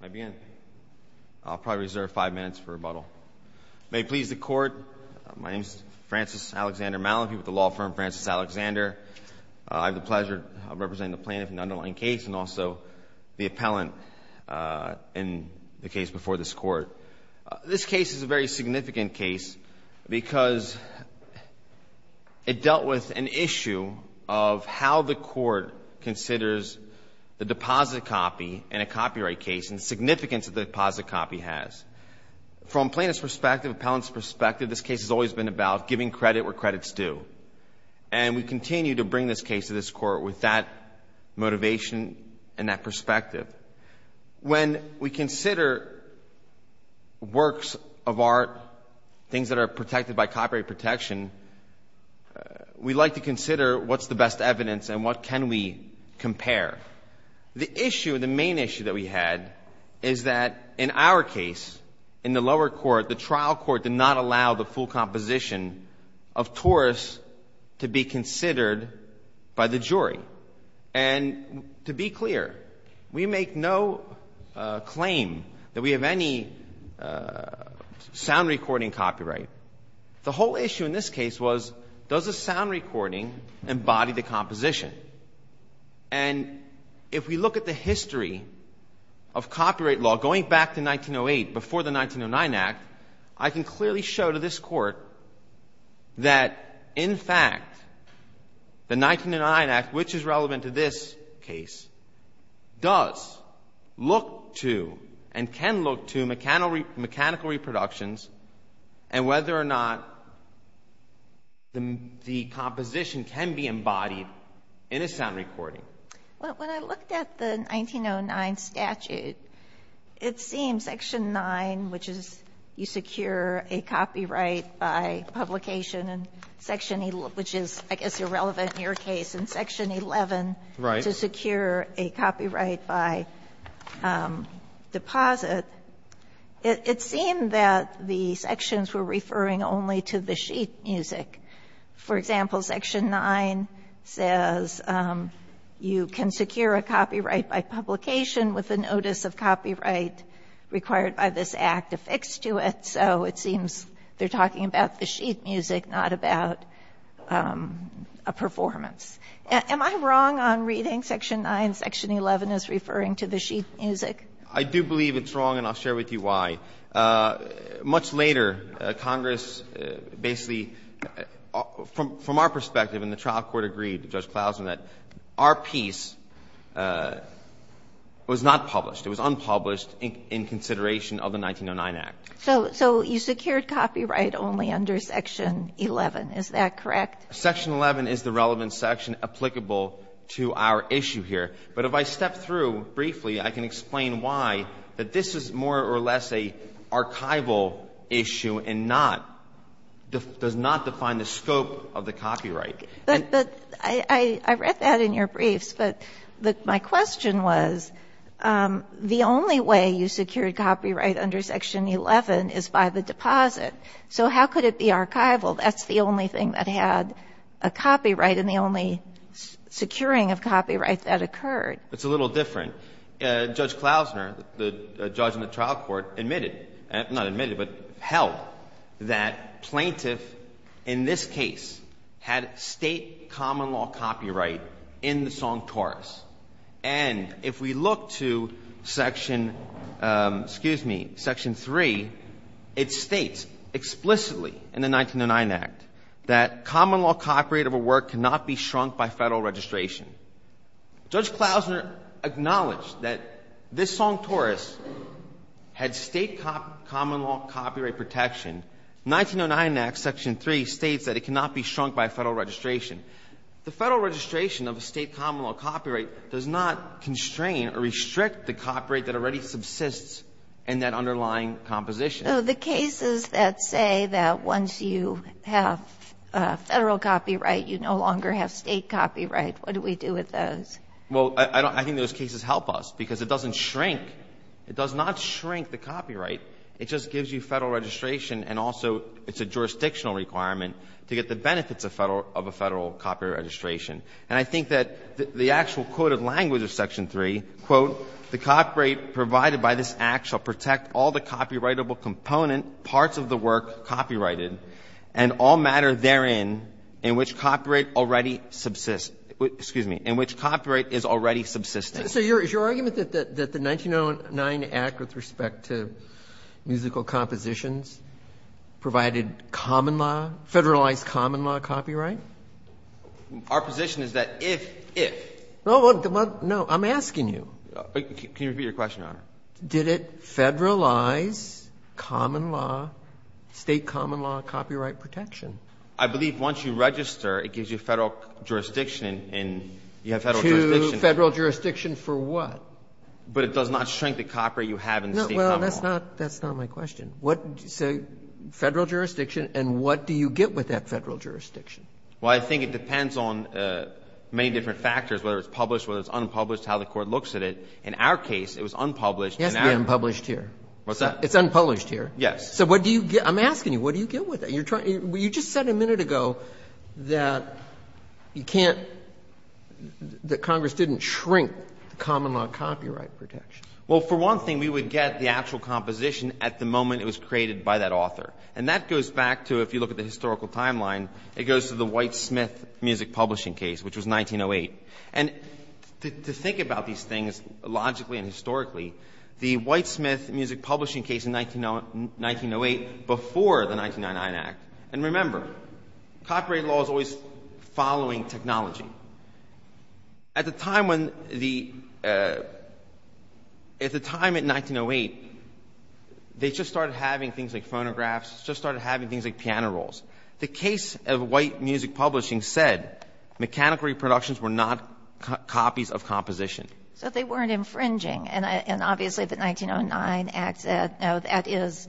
May I begin? I'll probably reserve five minutes for rebuttal. May it please the Court, my name is Francis Alexander Malafie with the law firm Francis Alexander. I have the pleasure of representing the plaintiff in the underlying case and also the appellant in the case before this Court. This case is a very significant case because it dealt with an issue of how the Court considers the deposit copy in a copyright case and the significance that the deposit copy has. From plaintiff's perspective, appellant's perspective, this case has always been about giving credit where credit's due. And we continue to bring this case to this Court with that motivation and that perspective. When we consider works of art, things that are protected by copyright protection, we like to consider what's the best evidence and what can we compare. The issue, the main issue that we had is that in our case, in the lower court, the trial court did not allow the full composition of Taurus to be considered by the jury. And to be clear, we make no claim that we have any sound recording copyright. The whole issue in this case was does the sound recording embody the composition. And if we look at the history of copyright law, going back to 1908 before the 1909 Act, I can clearly show to this Court that, in fact, the 1909 Act, which is relevant to this case, does look to and can look to mechanical reproductions and whether or not the composition can be embodied by the jury. And it's not recording. When I looked at the 1909 statute, it seems Section 9, which is you secure a copyright by publication, and Section 11, which is, I guess, irrelevant in your case, and Section 11 to secure a copyright by deposit, it seemed that the sections were referring only to the sheet music. For example, Section 9 says you can secure a copyright by publication with the notice of copyright required by this Act affixed to it. So it seems they're talking about the sheet music, not about a performance. Am I wrong on reading Section 9, Section 11 as referring to the sheet music? I do believe it's wrong, and I'll share with you why. Much later, Congress basically, from our perspective, and the trial court agreed to Judge Klausner, that our piece was not published. It was unpublished in consideration of the 1909 Act. So you secured copyright only under Section 11. Is that correct? Section 11 is the relevant section applicable to our issue here. But if I step through briefly, I can explain why, that this is more or less an archival issue and not, does not define the scope of the copyright. But I read that in your briefs, but my question was, the only way you secured copyright under Section 11 is by the deposit. So how could it be archival? That's the only thing that had a copyright and the only securing of copyright that occurred. It's a little different. Judge Klausner, the judge in the trial court, admitted, not admitted, but held that plaintiff in this case had State common law copyright in the song chorus. And if we look to Section, excuse me, Section 3, it states explicitly in the 1909 Act that common law copyright of a work cannot be shrunk by Federal registration. Judge Klausner acknowledged that this song chorus had State common law copyright protection. 1909 Act, Section 3, states that it cannot be shrunk by Federal registration. The Federal registration of a State common law copyright does not constrain or restrict the copyright that already subsists in that underlying composition. So the cases that say that once you have Federal copyright, you no longer have State copyright, what do we do with those? Well, I think those cases help us because it doesn't shrink. It does not shrink the copyright. It just gives you Federal registration and also it's a jurisdictional requirement to get the benefits of Federal, of a Federal copyright registration. And I think that the actual quoted language of Section 3, quote, the copyright provided by this Act shall protect all the copyrightable component parts of the work copyrighted and all matter therein in which copyright already subsists, excuse me, in which copyright is already subsisting. So is your argument that the 1909 Act with respect to musical compositions provided common law, Federalized common law copyright? Our position is that if, if. Well, no, I'm asking you. Can you repeat your question, Your Honor? Did it Federalize common law, State common law copyright protection? I believe once you register, it gives you Federal jurisdiction and you have Federal jurisdiction. To Federal jurisdiction for what? But it does not shrink the copyright you have in the State common law. Well, that's not my question. So Federal jurisdiction, and what do you get with that Federal jurisdiction? Well, I think it depends on many different factors, whether it's published, whether it's unpublished, how the Court looks at it. In our case, it was unpublished. It has to be unpublished here. What's that? It's unpublished here. Yes. So what do you get? I'm asking you, what do you get with it? You're trying to – you just said a minute ago that you can't – that Congress didn't shrink the common law copyright protection. Well, for one thing, we would get the actual composition at the moment it was created by that author. And that goes back to, if you look at the historical timeline, it goes to the Whitesmith Music Publishing case, which was 1908. And to think about these things logically and historically, the Whitesmith Music Publishing case in 1908, before the 1999 Act, and remember, copyright law is always following technology. At the time when the – at the time in 1908, they just started having things like phonographs, just started having things like piano rolls. The case of White Music Publishing said mechanical reproductions were not copies of composition. So they weren't infringing. And obviously, the 1909 Act said, no, that is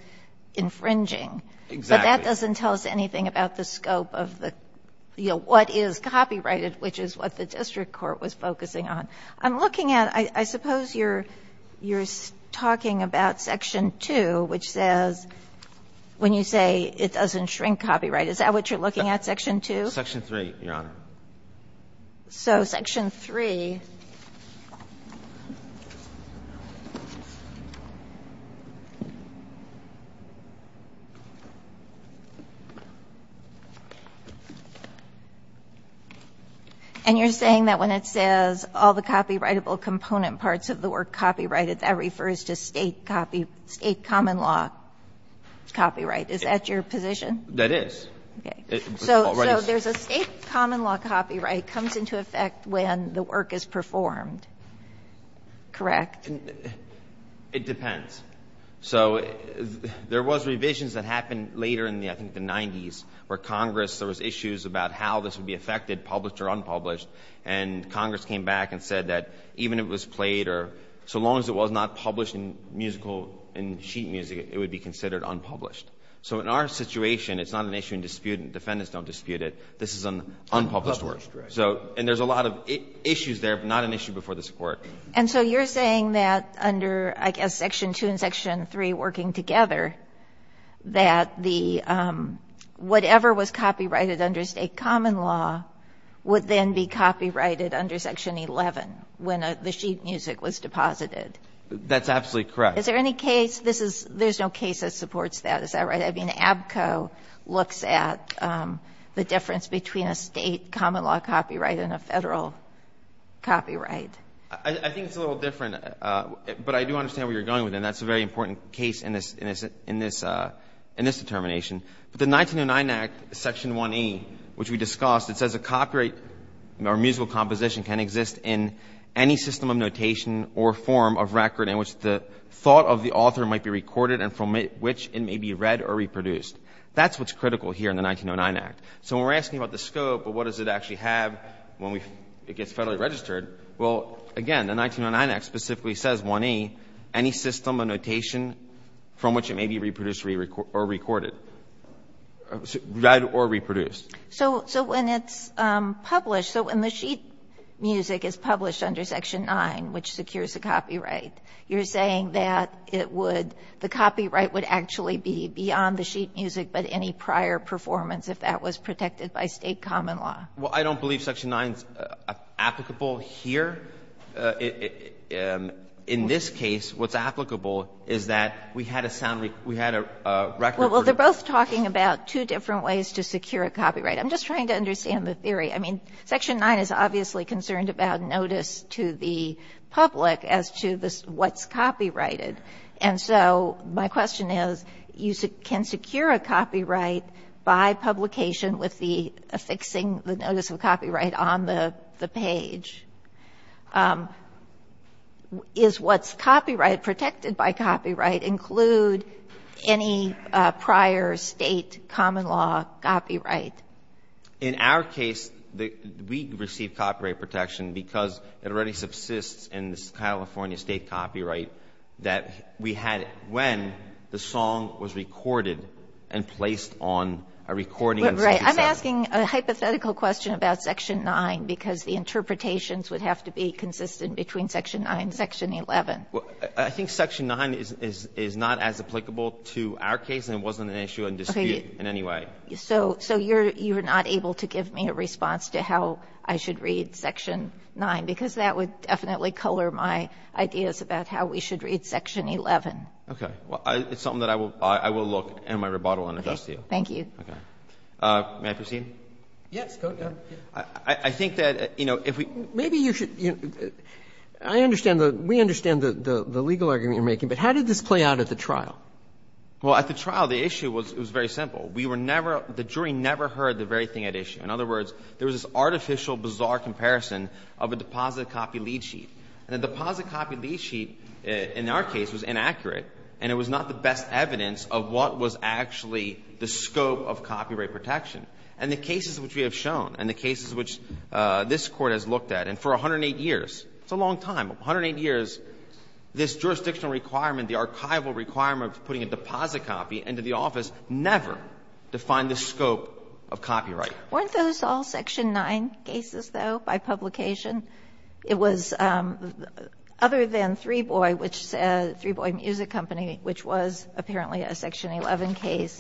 infringing. Exactly. But that doesn't tell us anything about the scope of the – you know, what is copyrighted, which is what the district court was focusing on. I'm looking at – I suppose you're – you're talking about Section 2, which says, when you say it doesn't shrink copyright, is that what you're looking at, Section 2? Section 3, Your Honor. So Section 3. And you're saying that when it says all the copyrightable component parts of the word copyrighted, that refers to State copy – State common law copyright. Is that your position? That is. Okay. So there's a State common law copyright comes into effect when the work is performed. Correct? It depends. So there was revisions that happened later in the – I think the 90s, where Congress – there was issues about how this would be affected, published or unpublished. And Congress came back and said that even if it was played or – so long as it was not published in musical – in sheet music, it would be considered unpublished. So in our situation, it's not an issue in dispute. Defendants don't dispute it. This is an unpublished work. Unpublished, right. So – and there's a lot of issues there, but not an issue before this work. And so you're saying that under, I guess, Section 2 and Section 3 working together, that the – whatever was copyrighted under State common law would then be copyrighted under Section 11, when the sheet music was deposited. That's absolutely correct. Is there any case – this is – there's no case that supports that. Is that right? I mean, ABCO looks at the difference between a State common law copyright and a Federal copyright. I think it's a little different, but I do understand where you're going with it. And that's a very important case in this determination. But the 1909 Act, Section 1A, which we discussed, it says a copyright or musical composition can exist in any system of notation or form of record in which the thought of the author might be recorded and from which it may be read or reproduced. That's what's critical here in the 1909 Act. So when we're asking about the scope of what does it actually have when we – it gets Federally registered, well, again, the 1909 Act specifically says, 1A, any system of notation from which it may be reproduced or recorded – read or reproduced. So when it's published – so when the sheet music is published under Section 9, which secures a copyright, you're saying that it would – the copyright would actually be beyond the sheet music, but any prior performance, if that was protected by State common law. Well, I don't believe Section 9 is applicable here. In this case, what's applicable is that we had a sound – we had a record for the – Well, they're both talking about two different ways to secure a copyright. I'm just trying to understand the theory. I mean, Section 9 is obviously concerned about notice to the public as to what's copyrighted. And so my question is, you can secure a copyright by publication with the affixing the notice of copyright on the page. Is what's copyright, protected by copyright, include any prior State common law copyright? In our case, we receive copyright protection because it already subsists in the California State copyright that we had when the song was recorded and placed on a recording in Section 7. Right. I'm asking a hypothetical question about Section 9, because the interpretations would have to be consistent between Section 9 and Section 11. I think Section 9 is not as applicable to our case, and it wasn't an issue in dispute in any way. Right. So you're not able to give me a response to how I should read Section 9, because that would definitely color my ideas about how we should read Section 11. Okay. Well, it's something that I will look in my rebuttal and address to you. Okay. Thank you. May I proceed? Yes. Go ahead. I think that, you know, if we – Maybe you should – I understand the – we understand the legal argument you're making, but how did this play out at the trial? Well, at the trial, the issue was very simple. We were never – the jury never heard the very thing at issue. In other words, there was this artificial, bizarre comparison of a deposit-copy lead sheet. And the deposit-copy lead sheet in our case was inaccurate, and it was not the best evidence of what was actually the scope of copyright protection. And the cases which we have shown and the cases which this Court has looked at, and for 108 years – it's a long time, 108 years – this jurisdictional requirement, the archival requirement of putting a deposit-copy into the office never defined the scope of copyright. Weren't those all Section 9 cases, though, by publication? It was other than Three Boy, which – Three Boy Music Company, which was apparently a Section 11 case,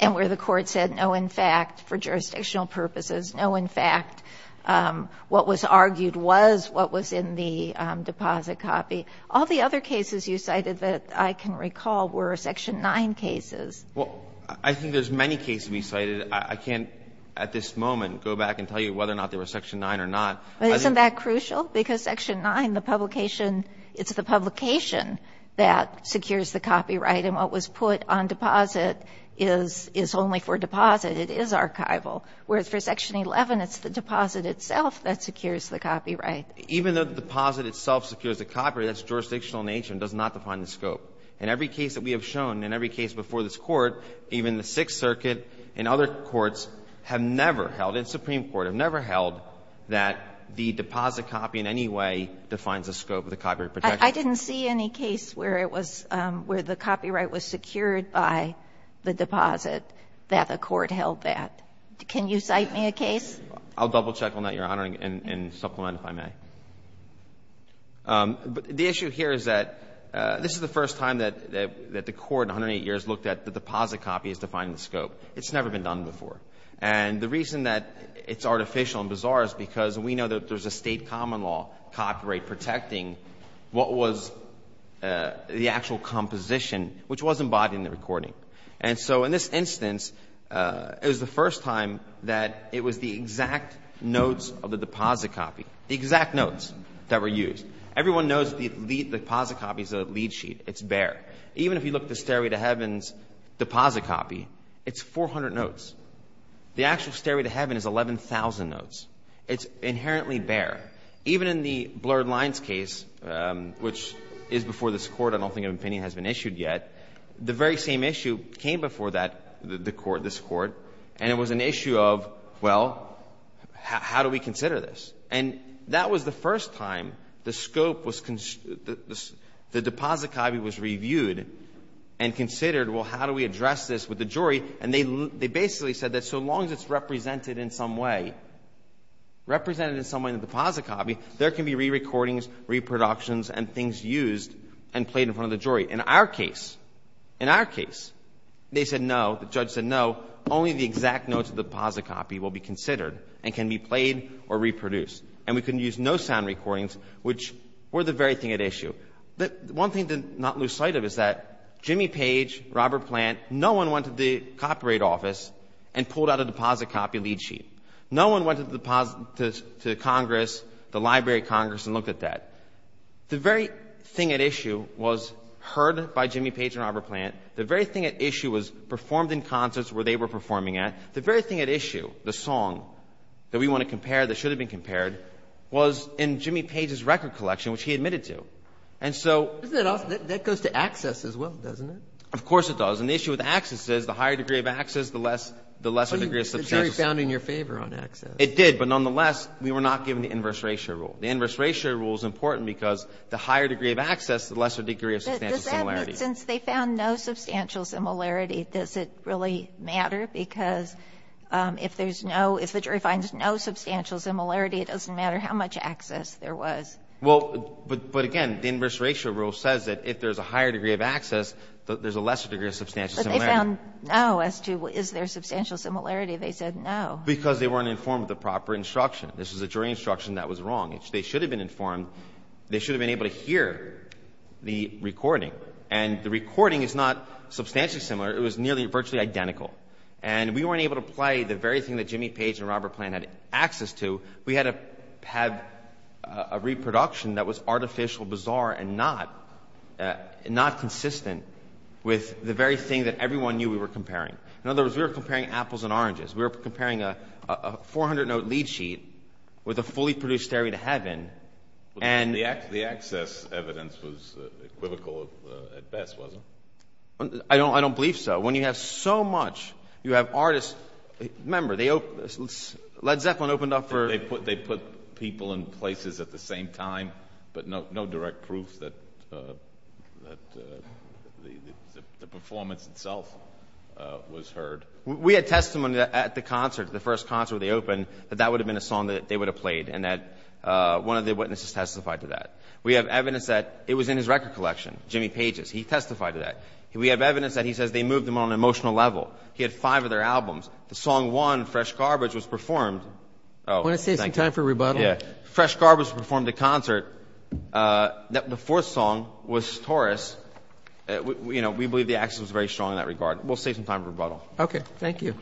and where the Court said, no, in fact, for jurisdictional purposes, no, in fact, what was argued was what was in the deposit-copy. All the other cases you cited that I can recall were Section 9 cases. Well, I think there's many cases we cited. I can't at this moment go back and tell you whether or not they were Section 9 or not. But isn't that crucial? Because Section 9, the publication – it's the publication that secures the copyright, and what was put on deposit is only for deposit. It is archival. Whereas for Section 11, it's the deposit itself that secures the copyright. Even though the deposit itself secures the copyright, that's jurisdictional nature and does not define the scope. In every case that we have shown, in every case before this Court, even the Sixth Circuit and other courts have never held, and the Supreme Court have never held, that the deposit-copy in any way defines the scope of the copyright protection. I didn't see any case where it was – where the copyright was secured by the deposit that a court held that. Can you cite me a case? I'll double-check on that, Your Honor, and supplement if I may. But the issue here is that this is the first time that the Court in 108 years looked at the deposit-copy as defining the scope. It's never been done before. And the reason that it's artificial and bizarre is because we know that there's a State common law copyright protecting what was the actual composition, which was embodied in the recording. And so in this instance, it was the first time that it was the exact notes of the deposit-copy, the exact notes that were used. Everyone knows the deposit-copy is a lead sheet. It's bare. Even if you look at the Stairway to Heaven's deposit-copy, it's 400 notes. The actual Stairway to Heaven is 11,000 notes. It's inherently bare. Even in the Blurred Lines case, which is before this Court, I don't think an opinion has been issued yet, the very same issue came before that, this Court, and it was an issue of, well, how do we consider this? And that was the first time the scope was the deposit-copy was reviewed and considered, well, how do we address this with the jury? And they basically said that so long as it's represented in some way, represented in some way in the deposit-copy, there can be rerecordings, reproductions and things used and played in front of the jury. In our case, in our case, they said no, the judge said no, only the exact notes of the deposit-copy will be considered and can be played or reproduced. And we can use no sound recordings, which were the very thing at issue. But one thing to not lose sight of is that Jimmy Page, Robert Plant, no one went to the Copyright Office and pulled out a deposit-copy lead sheet. No one went to the Congress, the Library of Congress, and looked at that. The very thing at issue was heard by Jimmy Page and Robert Plant. The very thing at issue was performed in concerts where they were performing at. The very thing at issue, the song that we want to compare, that should have been compared, was in Jimmy Page's record collection, which he admitted to. And so — Isn't that awesome? That goes to access as well, doesn't it? Of course it does. And the issue with access is the higher degree of access, the lesser degree of substantial — The jury found in your favor on access. It did. But nonetheless, we were not given the inverse ratio rule. The inverse ratio rule is important because the higher degree of access, the lesser degree of substantial similarity. But does that mean since they found no substantial similarity, does it really matter? Because if there's no — if the jury finds no substantial similarity, it doesn't matter how much access there was. Well, but again, the inverse ratio rule says that if there's a higher degree of access, there's a lesser degree of substantial similarity. But they found no as to is there substantial similarity. They said no. Because they weren't informed of the proper instruction. This was a jury instruction that was wrong. They should have been informed. They should have been able to hear the recording. And the recording is not substantially similar. It was nearly virtually identical. And we weren't able to play the very thing that Jimmy Page and Robert Plante had access to. We had to have a reproduction that was artificial, bizarre, and not consistent with the very thing that everyone knew we were comparing. In other words, we were comparing apples and oranges. We were comparing a 400-note lead sheet with a fully produced Stereo to Heaven, and — The access evidence was equivocal at best, wasn't it? I don't believe so. When you have so much, you have artists — remember, Led Zeppelin opened up for — They put people in places at the same time, but no direct proof that the performance itself was heard. We had testimony at the concert, the first concert where they opened, that that would have been a song that they would have played, and that one of the witnesses testified to that. We have evidence that it was in his record collection, Jimmy Page's. He testified to that. We have evidence that he says they moved him on an emotional level. He had five of their albums. The song one, Fresh Garbage, was performed — Oh, thank you. Want to save some time for rebuttal? Yeah. Fresh Garbage performed the concert. The fourth song was Taurus. You know, we believe the access was very strong in that regard. We'll save some time for rebuttal. Okay. Thank you.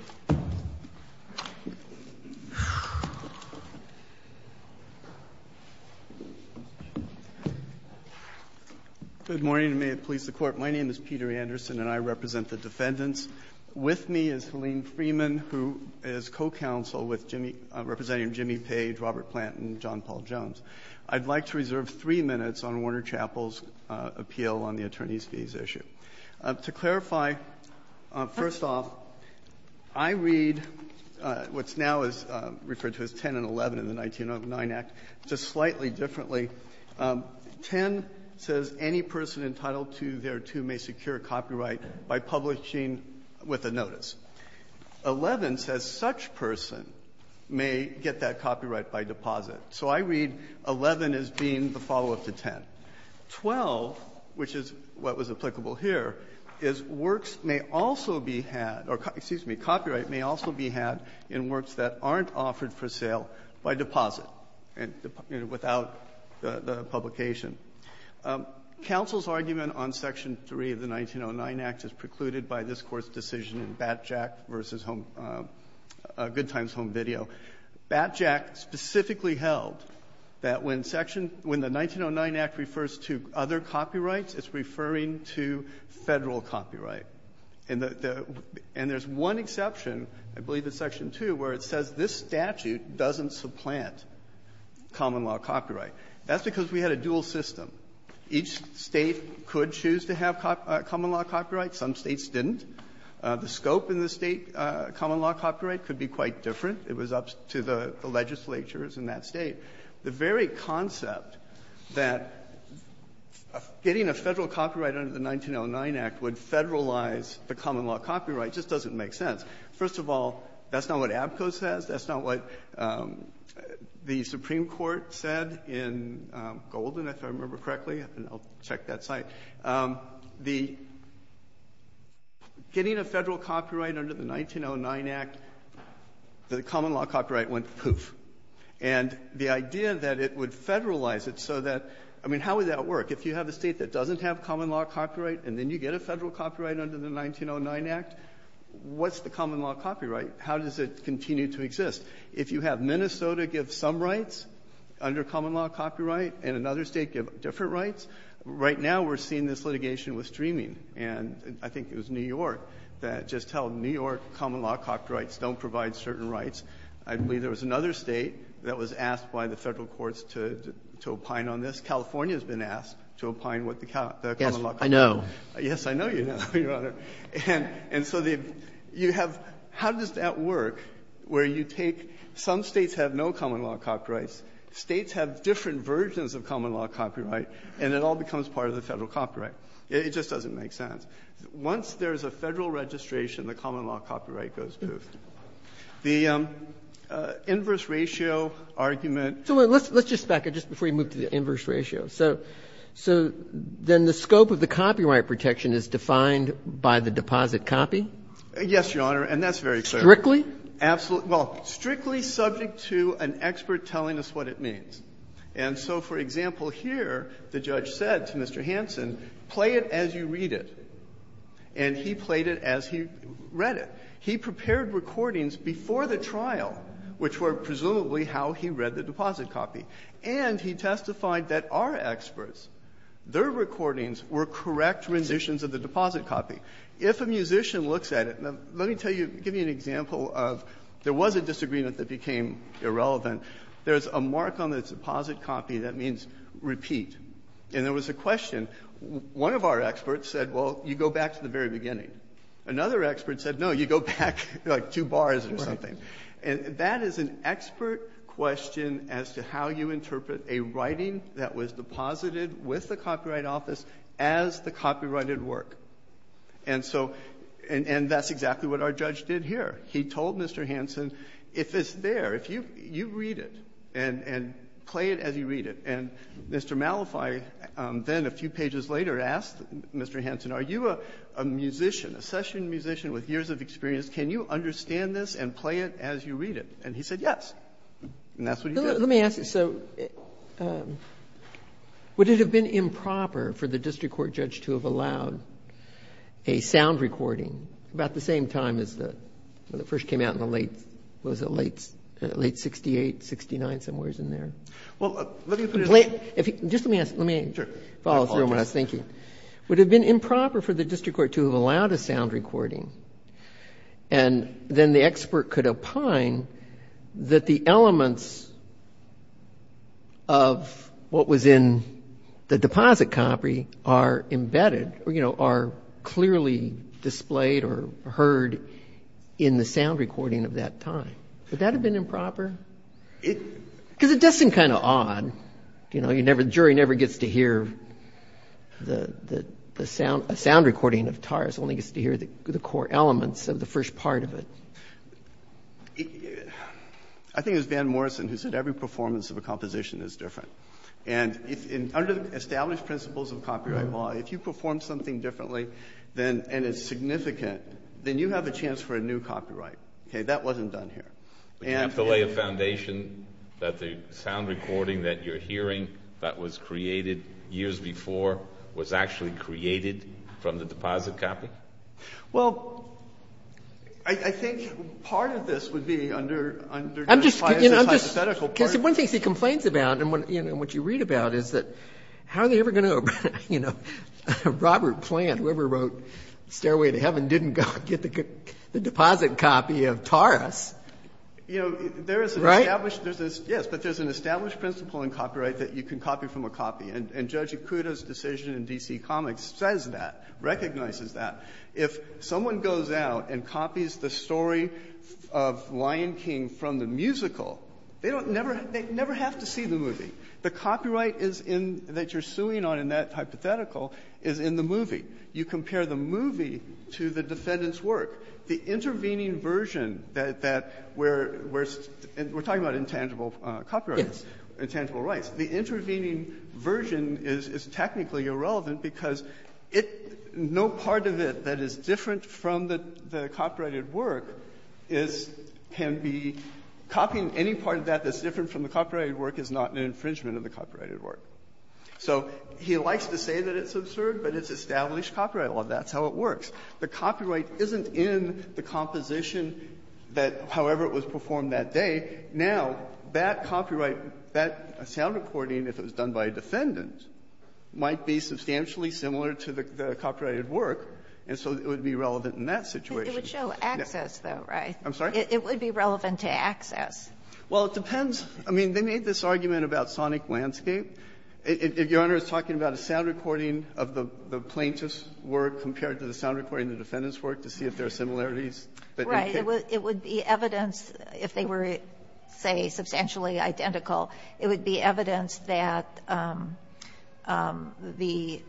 Good morning, and may it please the Court. My name is Peter Anderson, and I represent the defendants. With me is Helene Freeman, who is co-counsel with Jimmy — representing Jimmy Page, Robert Plant, and John Paul Jones. I'd like to reserve three minutes on Warner Chapel's appeal on the attorneys' fees issue. To clarify, first off, I read what's now referred to as 10 and 11 in the 1909 Act just slightly differently. 10 says any person entitled to their two may secure copyright by publishing with a notice. 11 says such person may get that copyright by deposit. So I read 11 as being the follow-up to 10. 12, which is what was applicable here, is works may also be had — or, excuse me, copyright may also be had in works that aren't offered for sale by deposit and without the publication. Counsel's argument on Section 3 of the 1909 Act is precluded by this Court's decision in Batjack v. Home — Good Times Home Video. Batjack specifically held that when Section — when the 1909 Act refers to other copyrights, it's referring to Federal copyright. And the — and there's one exception, I believe it's Section 2, where it says this statute doesn't supplant common-law copyright. That's because we had a dual system. Each State could choose to have common-law copyright. Some States didn't. The scope in the State common-law copyright could be quite different. It was up to the legislatures in that State. The very concept that getting a Federal copyright under the 1909 Act would Federalize the common-law copyright just doesn't make sense. First of all, that's not what ABCO says. That's not what the Supreme Court said in Golden, if I remember correctly. And I'll check that site. The — getting a Federal copyright under the 1909 Act, the common-law copyright went poof. And the idea that it would Federalize it so that — I mean, how would that work? If you have a State that doesn't have common-law copyright and then you get a Federal copyright under the 1909 Act, what's the common-law copyright? How does it continue to exist? If you have Minnesota give some rights under common-law copyright and another State give different rights, right now we're seeing this litigation with streaming. And I think it was New York that just held New York common-law copyrights don't provide certain rights. I believe there was another State that was asked by the Federal courts to opine on this. California has been asked to opine what the common-law copyright is. Roberts. Yes, I know. Yes, I know you know, Your Honor. And so you have — how does that work, where you take — some States have no common-law copyright and it all becomes part of the Federal copyright. It just doesn't make sense. Once there's a Federal registration, the common-law copyright goes poof. The inverse ratio argument — So let's just back up just before you move to the inverse ratio. So then the scope of the copyright protection is defined by the deposit copy? Yes, Your Honor, and that's very clear. Strictly? Absolutely. Well, strictly subject to an expert telling us what it means. And so, for example, here, the judge said to Mr. Hansen, play it as you read it. And he played it as he read it. He prepared recordings before the trial, which were presumably how he read the deposit copy, and he testified that our experts, their recordings were correct renditions of the deposit copy. If a musician looks at it, let me tell you — give you an example of there was a disagreement that became irrelevant. There's a mark on the deposit copy that means repeat. And there was a question. One of our experts said, well, you go back to the very beginning. Another expert said, no, you go back, like, two bars or something. And that is an expert question as to how you interpret a writing that was deposited with the Copyright Office as the copyrighted work. And so — and that's exactly what our judge did here. He told Mr. Hansen, if it's there, if you — you read it and play it as you read it. And Mr. Malify then, a few pages later, asked Mr. Hansen, are you a musician, a session musician with years of experience? Can you understand this and play it as you read it? And he said yes. And that's what he did. Kagan. Let me ask you. So would it have been improper for the district court judge to have allowed a sound recording about the same time as the — when it first came out in the late — what was it, late 68, 69, somewhere in there? Well, let me put it — Just let me ask — let me follow through on what I was thinking. Sure. My apologies. Would it have been improper for the district court to have allowed a sound recording and then the expert could opine that the elements of what was in the deposit copy are embedded or, you know, are clearly displayed or heard in the sound recording of that time? Would that have been improper? It — Because it does seem kind of odd. You know, you never — the jury never gets to hear the sound — a sound recording of TARS, only gets to hear the core elements of the first part of it. I think it was Van Morrison who said every performance of a composition is different. And if — under the established principles of copyright law, if you perform something differently and it's significant, then you have a chance for a new copyright. Okay? That wasn't done here. And — Would you have to lay a foundation that the sound recording that you're hearing that was created years before was actually created from the deposit copy? Well, I think part of this would be under — I'm just —— hypothetical part — Because one of the things he complains about and, you know, what you read about is that how are they ever going to — you know, Robert Plant, whoever wrote Stairway to Heaven, didn't go get the deposit copy of TARS. You know, there is an established — Right? Yes, but there's an established principle in copyright that you can copy from a copy. And Judge Ikuda's decision in D.C. Comics says that, recognizes that. If someone goes out and copies the story of Lion King from the musical, they never have to see the movie. The copyright that you're suing on in that hypothetical is in the movie. You compare the movie to the defendant's work. The intervening version that — we're talking about intangible copyrights. Yes. Intangible rights. The intervening version is technically irrelevant because no part of it that is different from the copyrighted work is — can be — copying any part of that that's different from the copyrighted work is not an infringement of the copyrighted work. So he likes to say that it's absurd, but it's established copyright law. That's how it works. The copyright isn't in the composition that — however it was performed that day. Now, that copyright, that sound recording, if it was done by a defendant, might be substantially similar to the copyrighted work, and so it would be relevant in that situation. But it would show access, though, right? I'm sorry? It would be relevant to access. Well, it depends. I mean, they made this argument about sonic landscape. If Your Honor is talking about a sound recording of the plaintiff's work compared to the sound recording of the defendant's work to see if there are similarities that you think — Right. It would be evidence if they were, say, substantially identical, it would be evidence that the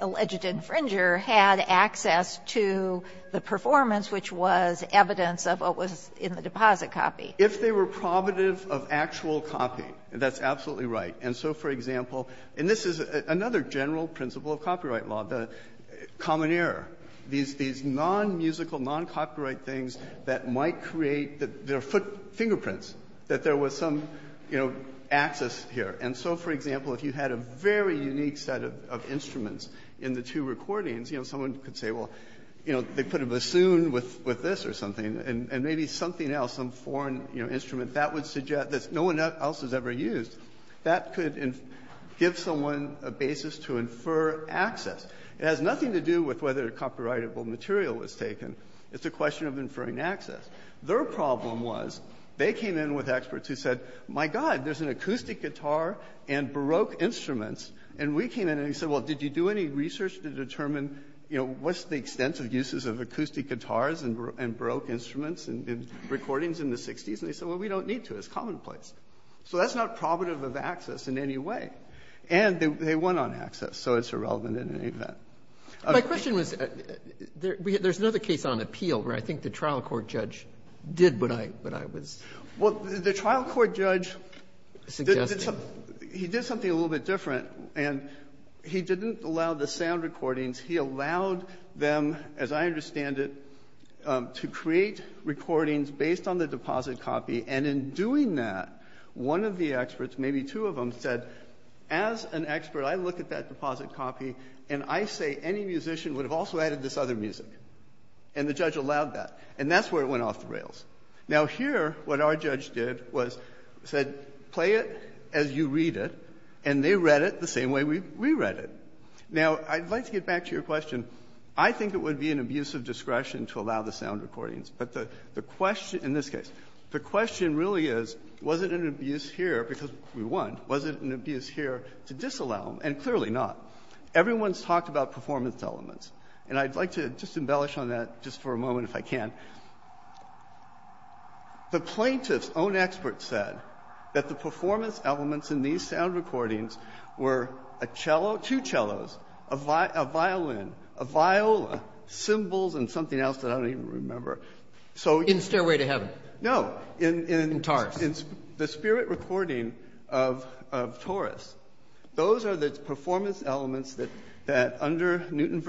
alleged infringer had access to the performance, which was evidence of what was in the deposit copy. If they were probative of actual copying, that's absolutely right. And so, for example, and this is another general principle of copyright law, the common error, these non-musical, non-copyright things that might create their footprints, that there was some, you know, access here. And so, for example, if you had a very unique set of instruments in the two recordings, you know, someone could say, well, you know, they put a bassoon with this or something, and maybe something else, some foreign, you know, instrument that would suggest that no one else has ever used, that could give someone a basis to infer access. It has nothing to do with whether a copyrightable material was taken. It's a question of inferring access. Their problem was they came in with experts who said, my God, there's an acoustic guitar and Baroque instruments, and we came in and said, well, did you do any research to determine, you know, what's the extent of uses of acoustic guitars and Baroque instruments in recordings in the 60s? And they said, well, we don't need to. It's commonplace. So that's not probative of access in any way. And they went on access, so it's irrelevant in any event. My question was, there's another case on appeal where I think the trial court judge did what I was suggesting. Well, the trial court judge, he did something a little bit different, and he didn't allow the sound recordings. He allowed them, as I understand it, to create recordings based on the deposit copy, and in doing that, one of the experts, maybe two of them, said, as an expert, I look at that deposit copy, and I say any musician would have also added this other music. And the judge allowed that. And that's where it went off the rails. Now, here, what our judge did was said, play it as you read it, and they read it the same way we read it. Now, I'd like to get back to your question. I think it would be an abuse of discretion to allow the sound recordings. But the question in this case, the question really is, was it an abuse here, because we won. Was it an abuse here to disallow them? And clearly not. Everyone's talked about performance elements, and I'd like to just embellish on that just for a moment, if I can. The plaintiff's own expert said that the performance elements in these sound recordings were a cello, two cellos, a violin, a viola, cymbals, and something else that I don't even remember. So you can't even remember. Roberts. In Stairway to Heaven. No. In Taurus. In the spirit recording of Taurus, those are the performance elements that, under Newton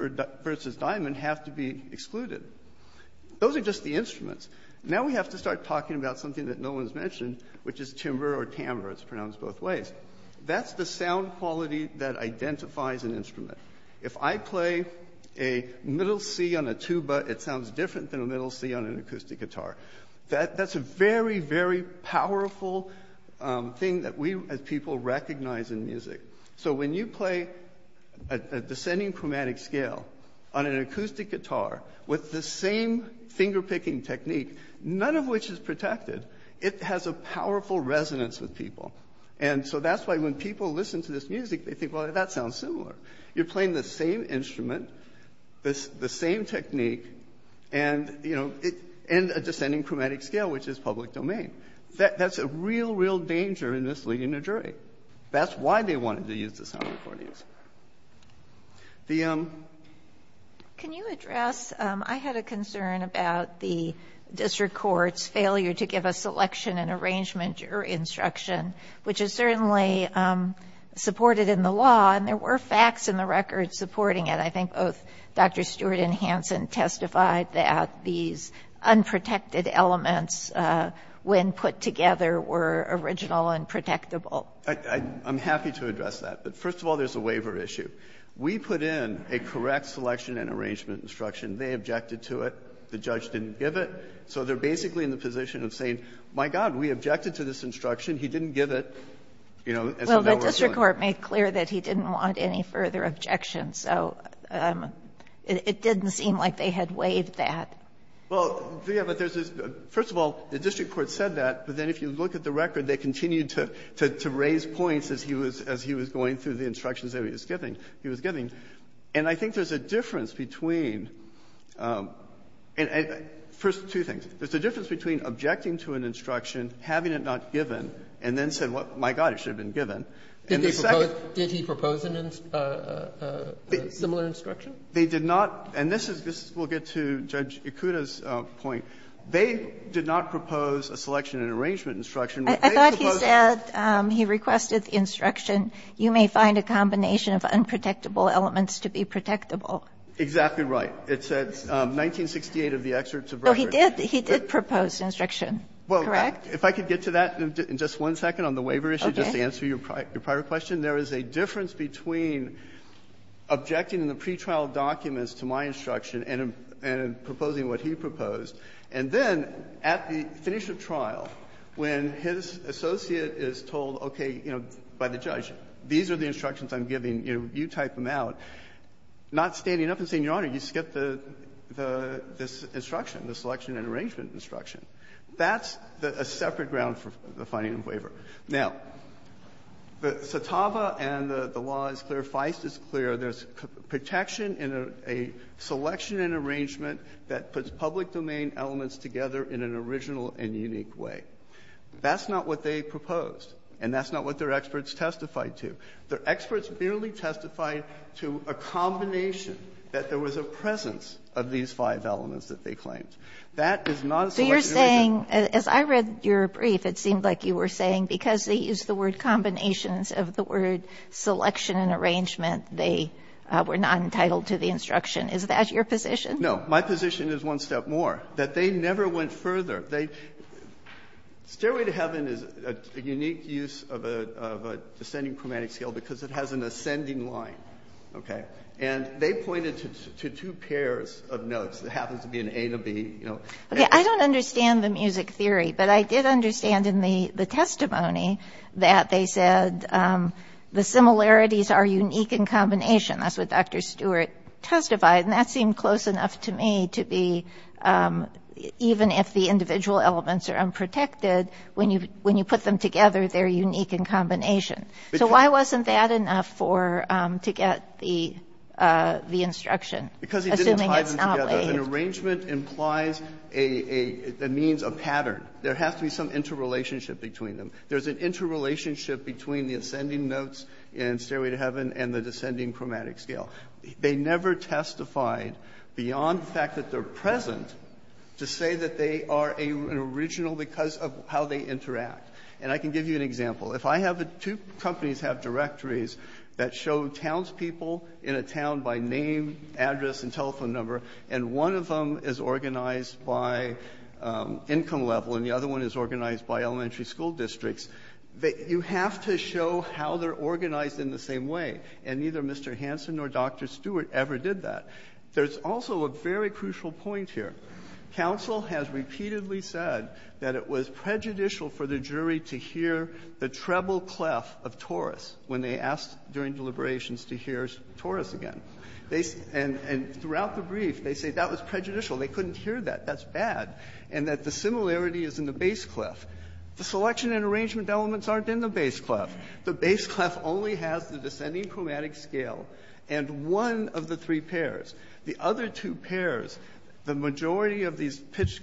versus Diamond, have to be excluded. Those are just the instruments. Now we have to start talking about something that no one's mentioned, which is timbre or tambre. It's pronounced both ways. That's the sound quality that identifies an instrument. If I play a middle C on a tuba, it sounds different than a middle C on an acoustic guitar. That's a very, very powerful thing that we as people recognize in music. So when you play a descending chromatic scale on an acoustic guitar with the same finger-picking technique, none of which is protected, it has a powerful resonance with people. And so that's why when people listen to this music, they think, well, that sounds similar. You're playing the same instrument, the same technique, and, you know, a descending chromatic scale, which is public domain. That's a real, real danger in misleading a jury. That's why they wanted to use the sound recordings. The ‑‑ Can you address ‑‑ I had a concern about the district court's failure to give a selection and arrangement jury instruction, which is certainly supported in the law. And there were facts in the record supporting it. I think both Dr. Stewart and Hanson testified that these unprotected elements when put together were original and protectable. I'm happy to address that. But first of all, there's a waiver issue. We put in a correct selection and arrangement instruction. They objected to it. The judge didn't give it. So they're basically in the position of saying, my God, we objected to this instruction. He didn't give it. And so now we're doing it. Well, the district court made clear that he didn't want any further objections. So it didn't seem like they had waived that. Well, yeah, but there's this ‑‑ first of all, the district court said that. But then if you look at the record, they continued to raise points as he was going through the instructions that he was giving. He was giving. And I think there's a difference between ‑‑ first, two things. There's a difference between objecting to an instruction, having it not given, and then saying, my God, it should have been given. And the second ‑‑ Did he propose a similar instruction? They did not. And this is ‑‑ we'll get to Judge Ikuda's point. They did not propose a selection and arrangement instruction. I thought he said he requested the instruction, you may find a combination of unprotectable elements to be protectable. Exactly right. It said 1968 of the excerpt to Breyer. So he did propose instruction, correct? Well, if I could get to that in just one second on the waiver issue, just to answer your prior question. There is a difference between objecting in the pretrial documents to my instruction and proposing what he proposed. And then at the finish of trial, when his associate is told, okay, you know, by the judge, these are the instructions I'm giving, you type them out, not standing up and saying, Your Honor, you skipped this instruction, the selection and arrangement instruction. That's a separate ground for the finding of waiver. Now, Satava and the law is clear. Feist is clear. There's protection in a selection and arrangement that puts public domain elements together in an original and unique way. That's not what they proposed. And that's not what their experts testified to. Their experts merely testified to a combination that there was a presence of these five elements that they claimed. That is not a selection and arrangement. So you're saying, as I read your brief, it seemed like you were saying because they used the word combinations of the word selection and arrangement, they were not entitled to the instruction. Is that your position? No. My position is one step more, that they never went further. They – Stairway to Heaven is a unique use of a descending chromatic scale because it has an ascending line, okay? And they pointed to two pairs of notes. It happens to be an A to B, you know. Okay. I don't understand the music theory, but I did understand in the testimony that they said the similarities are unique in combination. That's what Dr. Stewart testified, and that seemed close enough to me to be even if the individual elements are unprotected, when you put them together, they're unique in combination. So why wasn't that enough for – to get the instruction, assuming it's not a – Because he didn't tie them together. An arrangement implies a – that means a pattern. There has to be some interrelationship between them. There's an interrelationship between the ascending notes in Stairway to Heaven and the descending chromatic scale. They never testified, beyond the fact that they're present, to say that they are an original because of how they interact. And I can give you an example. If I have a – two companies have directories that show townspeople in a town by name, address, and telephone number, and one of them is organized by income level and the other one is organized by elementary school districts, you have to show how they're organized in the same way, and neither Mr. Hansen nor Dr. Stewart ever did that. There's also a very crucial point here. Counsel has repeatedly said that it was prejudicial for the jury to hear the treble clef of Taurus when they asked during deliberations to hear Taurus again. They – and throughout the brief, they say that was prejudicial. They couldn't hear that. That's bad. And that the similarity is in the bass clef. The selection and arrangement elements aren't in the bass clef. The bass clef only has the descending chromatic scale and one of the three pairs. The other two pairs, the majority of these pitch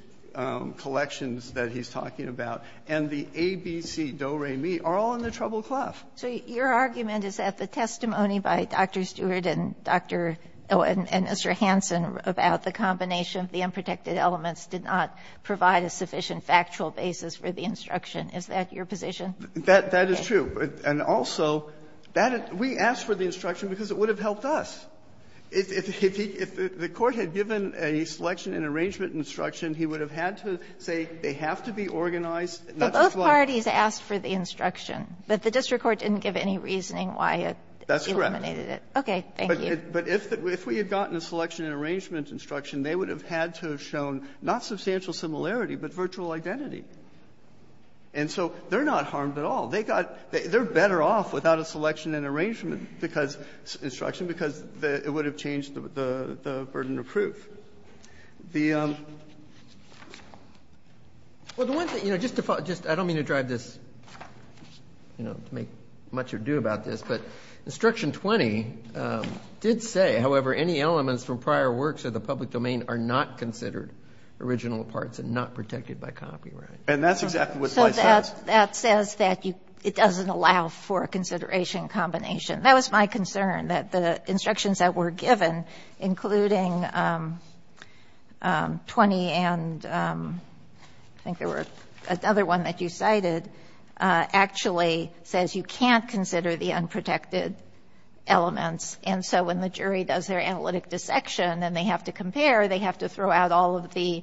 collections that he's talking about and the A, B, C, Do, Re, Mi are all in the treble clef. So your argument is that the testimony by Dr. Stewart and Dr. – and Mr. Hansen about the combination of the unprotected elements did not provide a sufficient factual basis for the instruction. Is that your position? That is true. And also, that – we asked for the instruction because it would have helped us. If he – if the Court had given a selection and arrangement instruction, he would have had to say they have to be organized, not just one. But both parties asked for the instruction. But the district court didn't give any reasoning why it eliminated it. That's correct. Okay. Thank you. But if we had gotten a selection and arrangement instruction, they would have had to have shown not substantial similarity, but virtual identity. And so they're not harmed at all. They got – they're better off without a selection and arrangement because instruction, because it would have changed the burden of proof. The – Well, the one thing – you know, just to follow – I don't mean to drive this, you know, to make much ado about this, but Instruction 20 did say, however, any elements from prior works of the public domain are not considered original parts and not protected by copyright. And that's exactly what slice says. So that says that you – it doesn't allow for a consideration combination. That was my concern, that the instructions that were given, including 20 and – I think there were another one that you cited – actually says you can't consider the unprotected elements. And so when the jury does their analytic dissection and they have to compare, they have to throw out all of the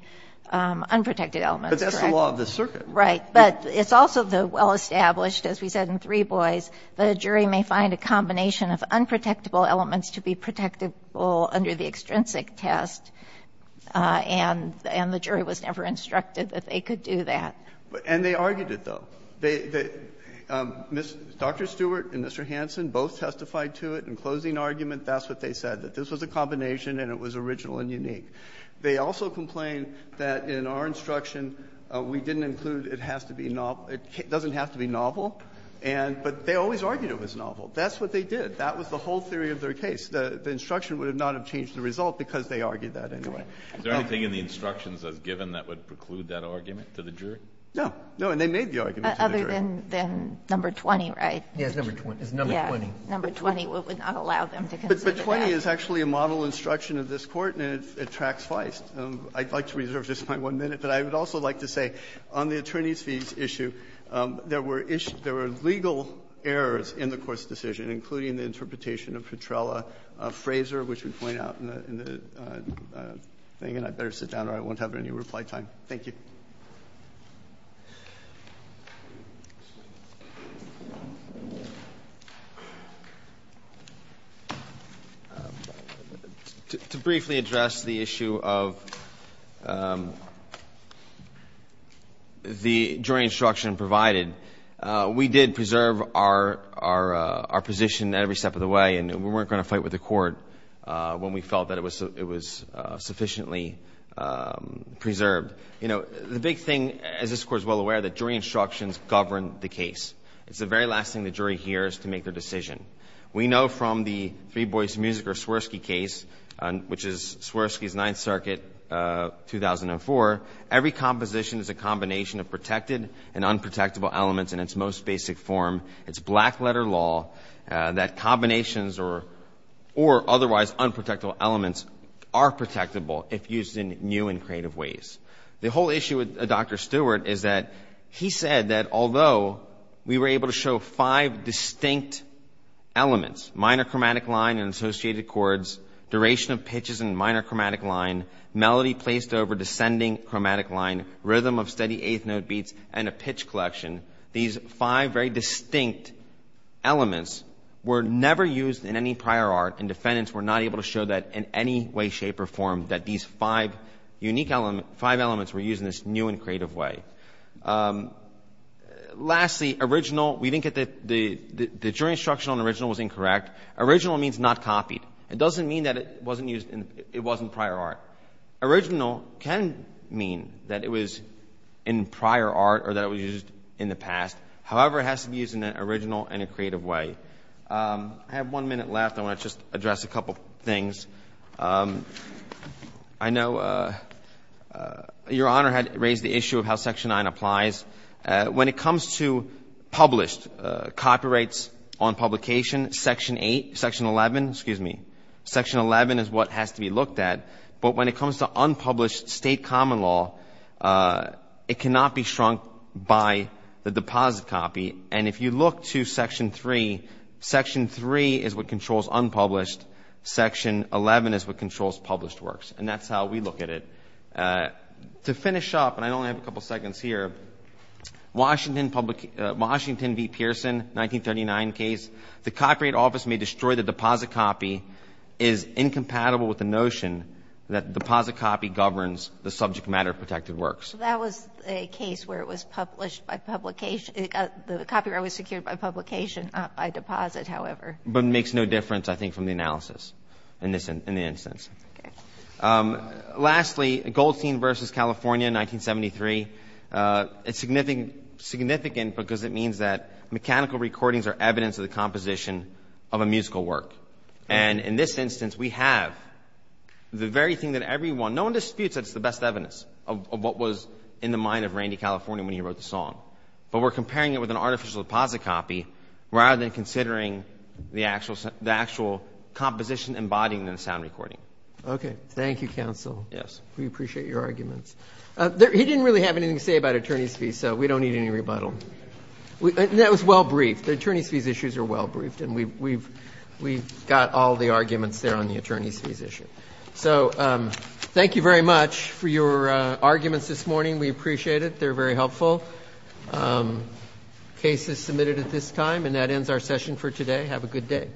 unprotected elements. But that's the law of the circuit. Right. But it's also the well-established, as we said in Three Boys, that a jury may find a combination of unprotectable elements to be protectable under the extrinsic test, and the jury was never instructed that they could do that. And they argued it, though. They – Dr. Stewart and Mr. Hansen both testified to it in closing argument that's what they said, that this was a combination and it was original and unique. They also complained that in our instruction, we didn't include it has to be novel It doesn't have to be novel. And – but they always argued it was novel. That's what they did. That was the whole theory of their case. The instruction would not have changed the result because they argued that anyway. Is there anything in the instructions as given that would preclude that argument to the jury? No. No. And they made the argument to the jury. Other than number 20, right? Yes, number 20. It's number 20. Number 20 would not allow them to consider that. But 20 is actually a model instruction of this Court, and it tracks Feist. I'd like to reserve just my one minute, but I would also like to say on the attorneys' fees issue, there were issues – there were legal errors in the Court's decision, including the interpretation of Petrella-Fraser, which we point out in the thing, and I'd better sit down or I won't have any reply time. Thank you. Thank you. To briefly address the issue of the jury instruction provided, we did preserve our position every step of the way, and we weren't going to fight with the Court when we felt that it was sufficiently preserved. You know, the big thing, as this Court is well aware, that jury instructions govern the case. It's the very last thing the jury hears to make their decision. We know from the Three Boys to Music, or Swirsky case, which is Swirsky's Ninth Circuit, 2004, every composition is a combination of protected and unprotectable elements in its most basic form. It's black-letter law that combinations or otherwise unprotectable elements are protectable if used in new and creative ways. The whole issue with Dr. Stewart is that he said that although we were able to show five distinct elements, minor chromatic line and associated chords, duration of pitches in minor chromatic line, melody placed over descending chromatic line, rhythm of steady eighth note beats, and a pitch collection, these five very distinct elements were never used in any prior art, and defendants were not able to show that in any way, shape, or form, that these five unique elements were used in this new and creative way. Lastly, the jury instruction on original was incorrect. Original means not copied. It doesn't mean that it wasn't used in prior art. Original can mean that it was in prior art or that it was used in the past. However, it has to be used in an original and a creative way. I have one minute left. I want to just address a couple of things. I know Your Honor had raised the issue of how Section 9 applies. When it comes to published copyrights on publication, Section 8, Section 11, excuse me, Section 11 is what has to be looked at. But when it comes to unpublished state common law, it cannot be shrunk by the deposit copy. And if you look to Section 3, Section 3 is what controls unpublished. Section 11 is what controls published works. And that's how we look at it. To finish up, and I only have a couple seconds here, Washington v. Pearson, 1939 case, the Copyright Office may destroy the deposit copy is incompatible with the notion that the deposit copy governs the subject matter of protected works. So that was a case where it was published by publication. The copyright was secured by publication, not by deposit, however. But it makes no difference, I think, from the analysis in the instance. Okay. Lastly, Goldstein v. California, 1973. It's significant because it means that mechanical recordings are evidence of the composition of a musical work. And in this instance, we have the very thing that everyone, no one disputes that it's the best evidence of what was in the mind of Randy California when he wrote the song. But we're comparing it with an artificial deposit copy rather than considering the actual composition embodying the sound recording. Okay. Thank you, counsel. Yes. We appreciate your arguments. He didn't really have anything to say about attorney's fees, so we don't need any rebuttal. That was well briefed. The attorney's fees issues are well briefed, and we've got all the arguments there on the attorney's fees issue. So thank you very much for your arguments this morning. We appreciate it. They're very helpful. Case is submitted at this time, and that ends our session for today. Have a good day.